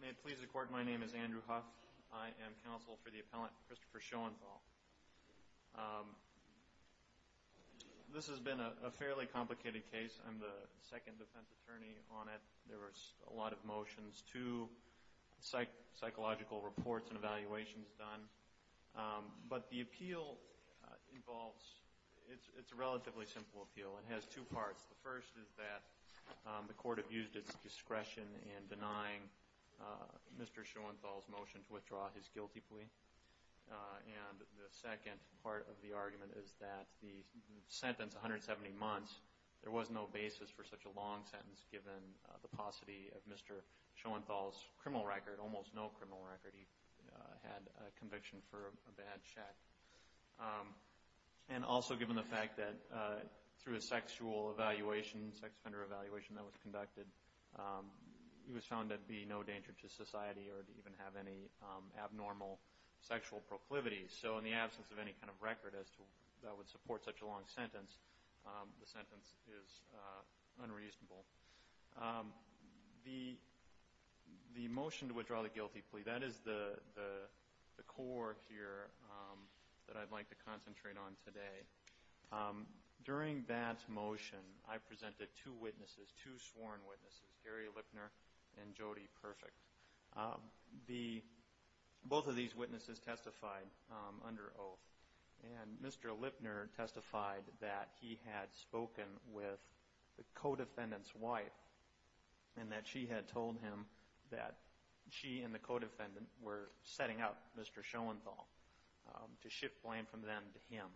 May it please the Court, my name is Andrew Huff. I am counsel for the appellant Christopher Schoenthal. This has been a fairly complicated case. I'm the second defense attorney on it. There were a lot of motions, two psychological reports and evaluations done. But the appeal involves, it's a relatively simple appeal. It has two parts. The first is that the Court used its discretion in denying Mr. Schoenthal's motion to withdraw his guilty plea. And the second part of the argument is that the sentence, 170 months, there was no basis for such a long sentence given the paucity of Mr. Schoenthal's criminal record, almost no criminal record. He had conviction for a bad check. And also given the fact that through a sexual evaluation, sex offender evaluation that was conducted, he was found to be no danger to society or to even have any abnormal sexual proclivities. So in the absence of any kind of record that would support such a long sentence, the sentence is unreasonable. The motion to withdraw the guilty plea, that is the core here that I'd like to concentrate on today. During that motion, I presented two witnesses, two sworn witnesses, Gary Lipner and Jody Perfect. Both of these witnesses testified under oath. And Mr. Lipner testified that he had spoken with the co-defendant's wife and that she had told him that she and Mr. Schoenthal were going to go down with him.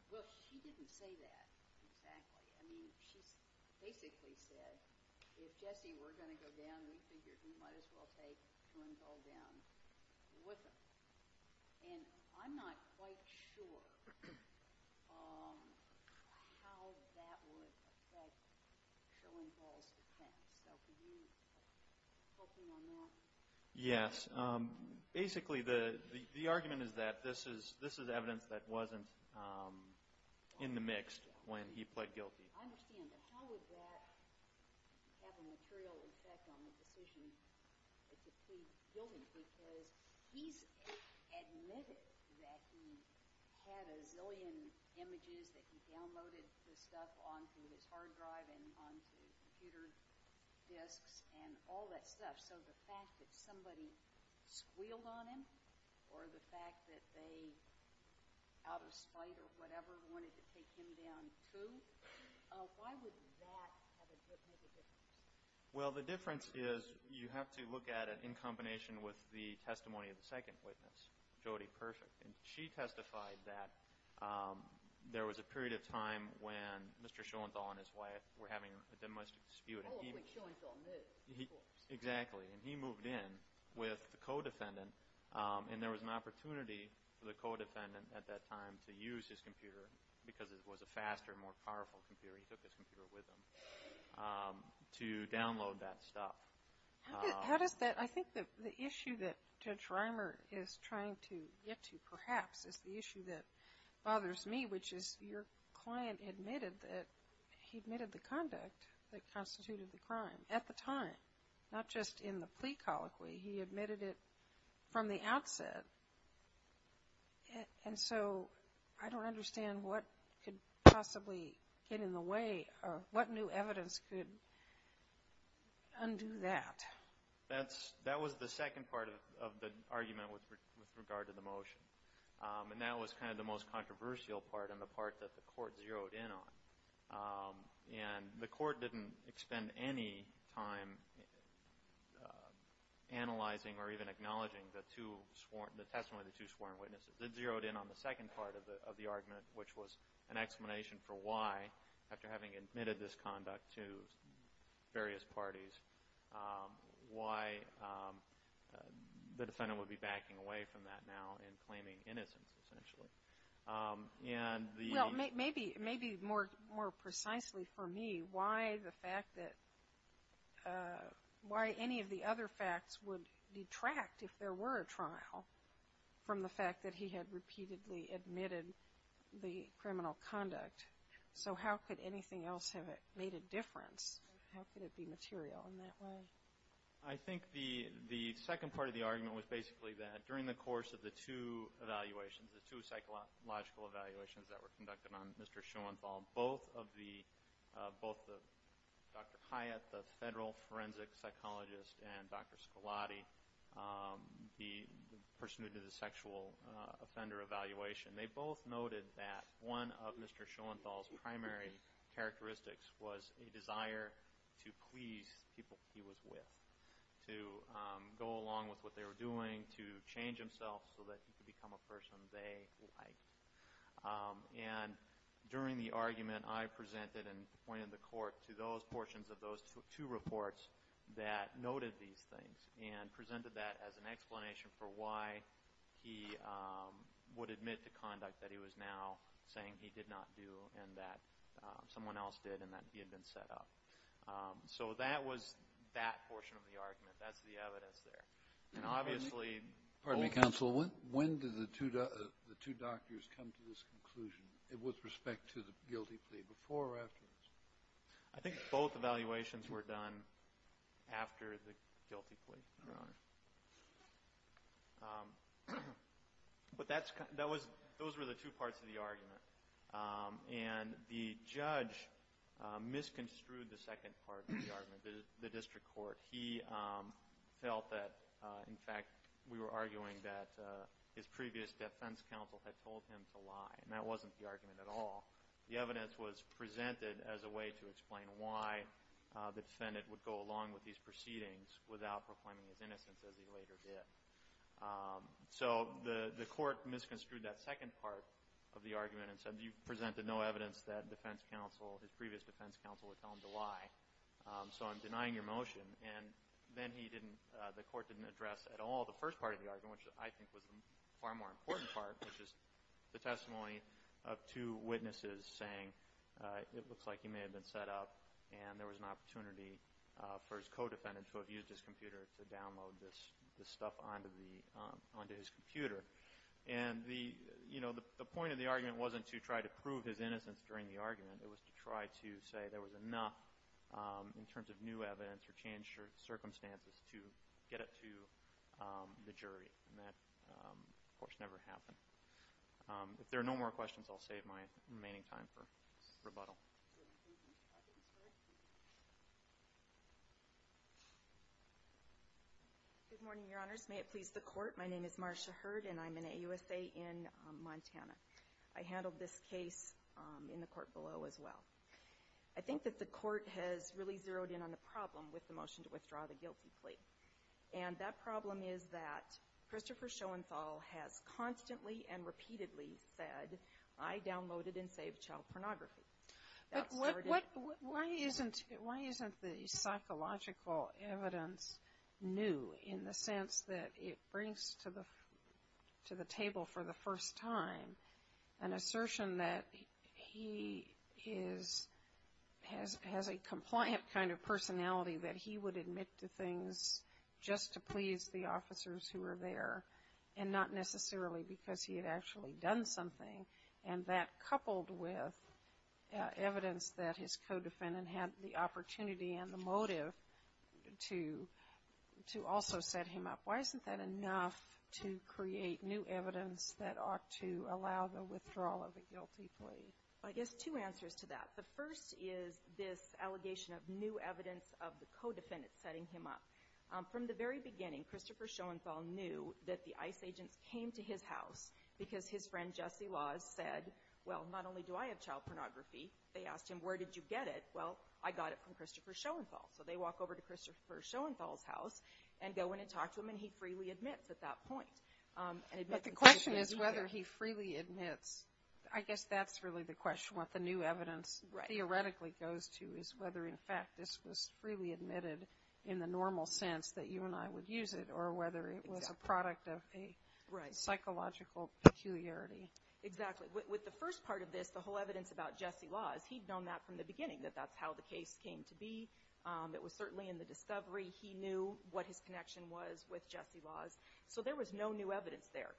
And I'm not quite sure how that would affect Schoenthal's defense. So could you poke me on that? Yes. Basically the argument is that this is evidence that wasn't in the mixed when he pled guilty. I understand. But how would that have a material effect on the decision to plead guilty? Because he's admitted that he had a zillion images, that he downloaded the stuff onto his hard drive and onto computer disks and all that stuff. So the fact that somebody squealed on him or the fact that they, out of spite or whatever, wanted to take him down too, why would that make a difference? Well, the difference is you have to look at it in combination with the testimony of the second witness, Jody Perfect. And she testified that there was a period of time when Mr. Schoenthal and his wife were having a domestic dispute. Oh, when Schoenthal moved. Exactly. And he moved in with the co-defendant and there was an opportunity for the co-defendant at that time to use his computer because it was a faster, more powerful computer. He took his computer with him to download that stuff. How does that, I think the issue that Judge Reimer is trying to get to perhaps is the issue that he admitted the conduct that constituted the crime at the time, not just in the plea colloquy. He admitted it from the outset. And so I don't understand what could possibly get in the way or what new evidence could undo that. That was the second part of the argument with regard to the motion. And that was kind of the most controversial part and the part that the Court zeroed in on. And the Court didn't expend any time analyzing or even acknowledging the testimony of the two sworn witnesses. It zeroed in on the second part of the argument, which was an explanation for why, after having admitted this conduct to various parties, why the defendant would be backing away from that now and claiming innocence essentially. Well, maybe more precisely for me, why any of the other facts would detract if there were a trial from the fact that he had repeatedly admitted the criminal conduct. So how could anything else have made a difference? How could it be material in that way? I think the second part of the argument was basically that during the course of the two evaluations, the two psychological evaluations that were conducted on Mr. Schoenthal, both Dr. Hyatt, the federal forensic psychologist, and Dr. Scolati, the person who did the sexual offender evaluation, they both noted that one of Mr. Schoenthal's primary characteristics was a desire to please people he was with, to go along with what they were doing, to change himself so that he could become a person they liked. And during the argument, I presented and pointed the Court to those portions of those two reports that noted these things and presented that as an explanation for why he would admit to conduct that he was now saying he did not do and that someone else did and that he had been set up. So that was that portion of the argument. That's the evidence there. And obviously — Pardon me, counsel. When did the two doctors come to this conclusion with respect to the guilty plea, before or afterwards? I think both evaluations were done after the guilty plea, Your Honor. But those were the two parts of the argument. And the judge misconstrued the second part of the argument, the district court. He felt that, in fact, we were arguing that his previous defense counsel had told him to lie, and that wasn't the argument at all. The evidence was presented as a way to explain why the defendant would go along with these proceedings without proclaiming his innocence, as he later did. So the Court misconstrued that second part of the argument and said, you presented no evidence that defense counsel, his previous defense counsel, would tell him to lie. So I'm denying your motion. And then he didn't — the Court didn't address at all the first part of the argument, which I think was the far more important part, which is the testimony of two witnesses saying it looks like he may have been set up and there was an opportunity for his co-defendant to have used his computer to download this stuff onto the — onto his computer. And the — you know, the point of the argument wasn't to try to prove his innocence during the argument. It was to try to say there was enough, in terms of new evidence or changed circumstances, to get it to the jury. And that, of course, never happened. If there are no more questions, I'll save my remaining time for rebuttal. Good morning, Your Honors. May it please the Court. My name is Marcia Hurd, and I'm an AUSA in Montana. I handled this case in the Court below as well. I think that the Court has really zeroed in on the problem with the motion to withdraw the guilty plea. And that problem is that Christopher Schoenthal has constantly and repeatedly said, I downloaded and saved child pornography. But why isn't the psychological evidence new in the sense that it brings to the table for the first time an assertion that he is — has a compliant kind of personality, that he would admit to things just to please the officers who were there, and not necessarily because he had actually done something? And that, coupled with evidence that his co-defendant had the opportunity and the motive to also set him up, why isn't that enough to create new evidence that ought to allow the withdrawal of the guilty plea? I guess two answers to that. The first is this allegation of new evidence of the co-defendant setting him up. From the very beginning, Christopher Schoenthal knew that the ICE agents came to his house because his friend Jesse Laws said, well, not only do I have child pornography, they asked him, where did you get it? Well, I got it from Christopher Schoenthal. So they walk over to Christopher Schoenthal's house and go in and talk to him, and he freely admits at that point. But the question is whether he freely admits. I guess that's really the question, what the new evidence theoretically goes to, is whether, in fact, this was freely admitted in the normal sense that you and I would use it, or whether it was a product of a psychological peculiarity. Exactly. With the first part of this, the whole evidence about Jesse Laws, he'd known that from the beginning, that that's how the case came to be. It was certainly in the discovery. He knew what his connection was with Jesse Laws. So there was no new evidence there.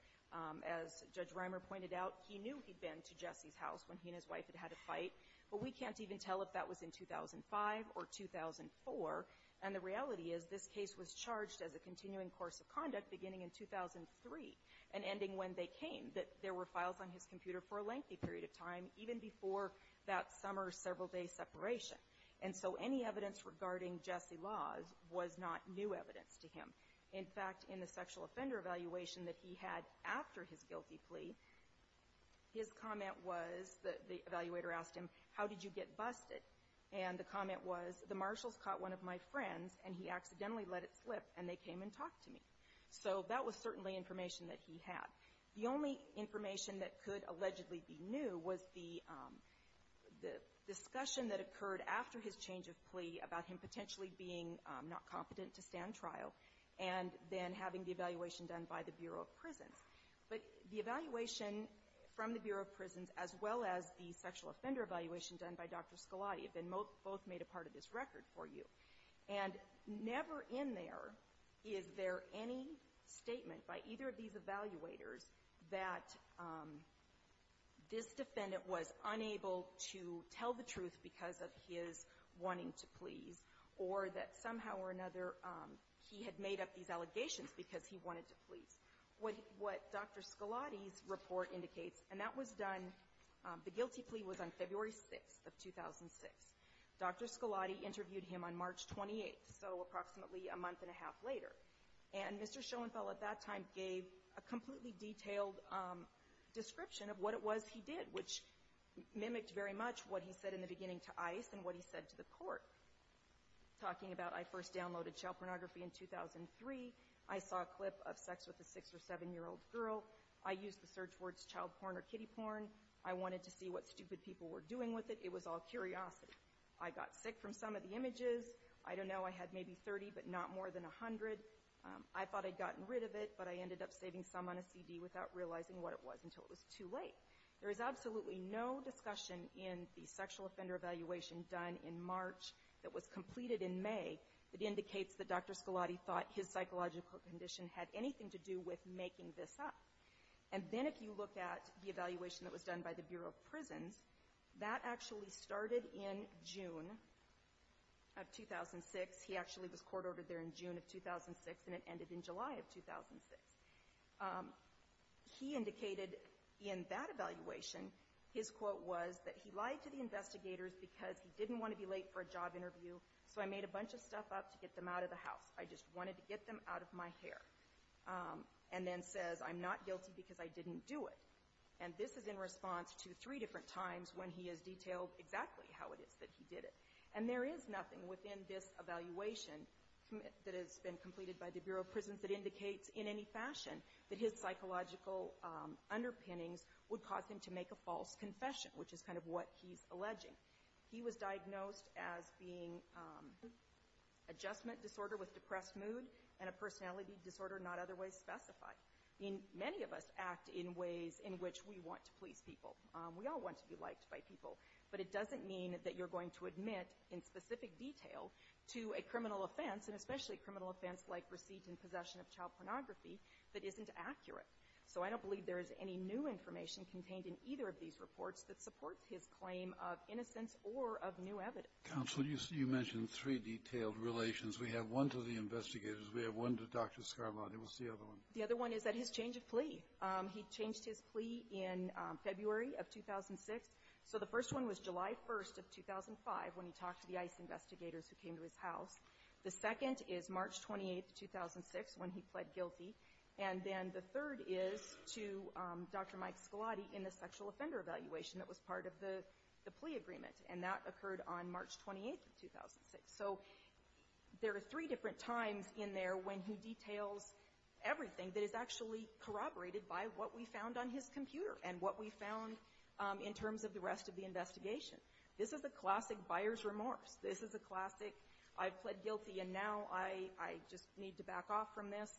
As Judge Reimer pointed out, he knew he'd been to Jesse's house when he and his wife had had a fight, but we can't even tell if that was in 2005 or 2004. And the reality is this case was charged as a continuing course of conduct beginning in 2003 and ending when they came, that there were files on his computer for a lengthy period of time, even before that summer several-day separation. And so any evidence regarding Jesse Laws was not new evidence to him. In fact, in the sexual offender evaluation that he had after his guilty plea, his comment was, the evaluator asked him, how did you get busted? And the comment was, the marshals caught one of my friends and he accidentally let it slip and they came and talked to me. So that was certainly information that he had. The only information that could allegedly be new was the discussion that occurred after his change of plea about him potentially being not competent to stand trial and then having the evaluation done by the Bureau of Prisons. But the evaluation from the Bureau of Prisons, as well as the sexual offender evaluation done by Dr. Scalati, have both made a part of this record for you. And never in there is there any statement by either of these evaluators that this defendant was unable to tell the truth because of his wanting to please, or that somehow or another he had made up these allegations because he wanted to please. What Dr. Scalati's report indicates, and that was done, the guilty plea was on February 6th of 2006. Dr. Scalati interviewed him on March 28th, so approximately a month and a half later. And Mr. Schoenfeld at that time gave a completely detailed description of what it was he did, which mimicked very much what he said in the beginning to ICE and what he said to the court, talking about, I first downloaded child pornography in 2003. I saw a clip of sex with a six- or seven-year-old girl. I used the search words child porn or kiddie porn. I wanted to see what stupid people were doing with it. It was all curiosity. I got sick from some of the images. I don't know, I had maybe 30, but not more than 100. I thought I'd gotten rid of it, but I ended up saving some on a CD without realizing what it was until it was too late. There is absolutely no discussion in the sexual offender evaluation done in March that was completed in May that indicates that Dr. Scalati thought his psychological condition had anything to do with making this up. And then if you look at the evaluation that was done by the Bureau of Prisons, that actually started in June of 2006. He actually was court-ordered there in June of 2006, and it ended in July of 2006. He indicated in that evaluation, his quote was that he lied to the investigators because he didn't want to be late for a job interview, so I made a bunch of stuff up to get them out of the house. I just wanted to get them out of my hair. And then says, I'm not guilty because I didn't do it. And this is in response to three different times when he has detailed exactly how it is that he did it. And there is nothing within this evaluation that has been completed by the Bureau of Prisons that indicates in any fashion that his psychological underpinnings would cause him to make a false confession, which is kind of what he's alleging. He was diagnosed as being adjustment disorder with depressed mood and a personality disorder not otherwise specified. I mean, many of us act in ways in which we want to please people. We all want to be liked by people. But it doesn't mean that you're going to admit in specific detail to a criminal offense, and especially a criminal offense like receipt and possession of child pornography, that isn't accurate. So I don't believe there is any new information contained in either of these reports that supports his claim of innocence or of new evidence. Counsel, you mentioned three detailed relations. We have one to the investigators. We have one to Dr. Scarlatti. The other one is that his change of plea. He changed his plea in February of 2006. So the first one was July 1st of 2005, when he talked to the ICE investigators who came to his house. The second is March 28th, 2006, when he pled guilty. And then the third is to Dr. Mike Scarlatti in the sexual offender evaluation that was part of the plea agreement. And that occurred on March 28th of 2006. So there are three different times in there when he details everything that is actually corroborated by what we found on his computer and what we found in terms of the rest of the investigation. This is a classic buyer's remorse. This is a classic I pled guilty and now I just need to back off from this.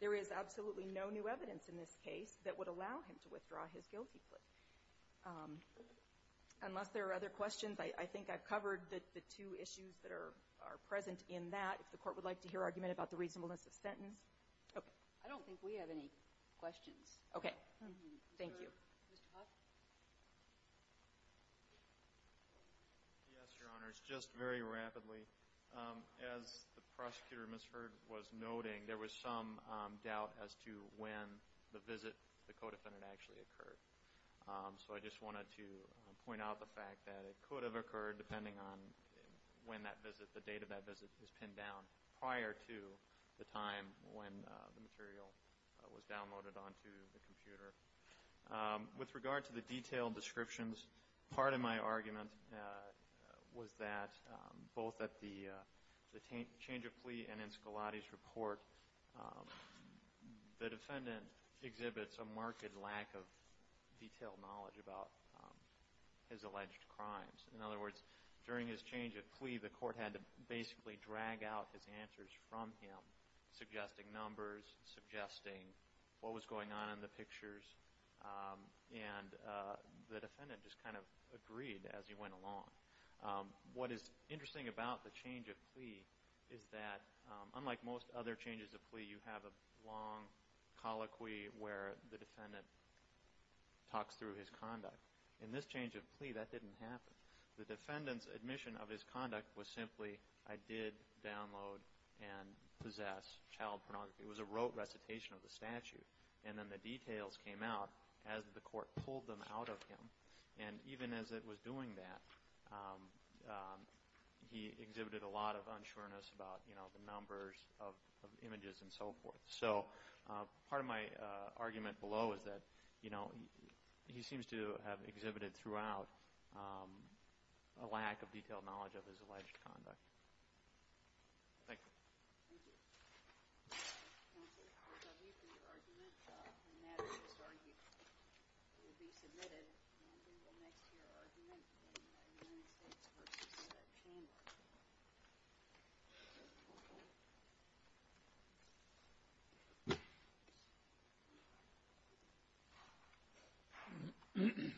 There is absolutely no new evidence in this case that would allow him to withdraw his guilty plea. Unless there are other questions, I think I've covered the two issues that are present in that. If the court would like to hear argument about the reasonableness of sentence. Okay. I don't think we have any questions. Okay. Thank you. Mr. Huff? Yes, Your Honors. Just very rapidly, as the prosecutor, Ms. Hurd, was noting, there was some doubt as to when the visit to the co-defendant actually occurred. So I just wanted to point out the fact that it could have occurred depending on when that visit, the date of that visit is pinned down prior to the time when the material was downloaded onto the computer. With regard to the detailed descriptions, part of my argument was that both at the change of plea and in Scalatti's report, the defendant exhibits a marked lack of detailed knowledge about his alleged crimes. In other words, during his change of plea, the court had to basically drag out his answers from him, suggesting numbers, suggesting what was going on in the pictures, and the defendant just kind of agreed as he went along. What is interesting about the change of plea is that, unlike most other changes of plea, you have a long colloquy where the defendant talks through his conduct. In this change of plea, that didn't happen. The defendant's admission of his conduct was simply, I did download and possess child pornography. It was a rote recitation of the statute. And then the details came out as the court pulled them out of him. And even as it was doing that, he exhibited a lot of unsureness about the numbers of images and so forth. So part of my argument below is that he seems to have exhibited throughout a lack of detailed knowledge of his alleged conduct. Thank you. Thank you. Counsel, I'll leave you for your argument, and that is this argument will be submitted. And I think we'll next hear argument in the United States versus Senate chamber. Thank you. Thank you.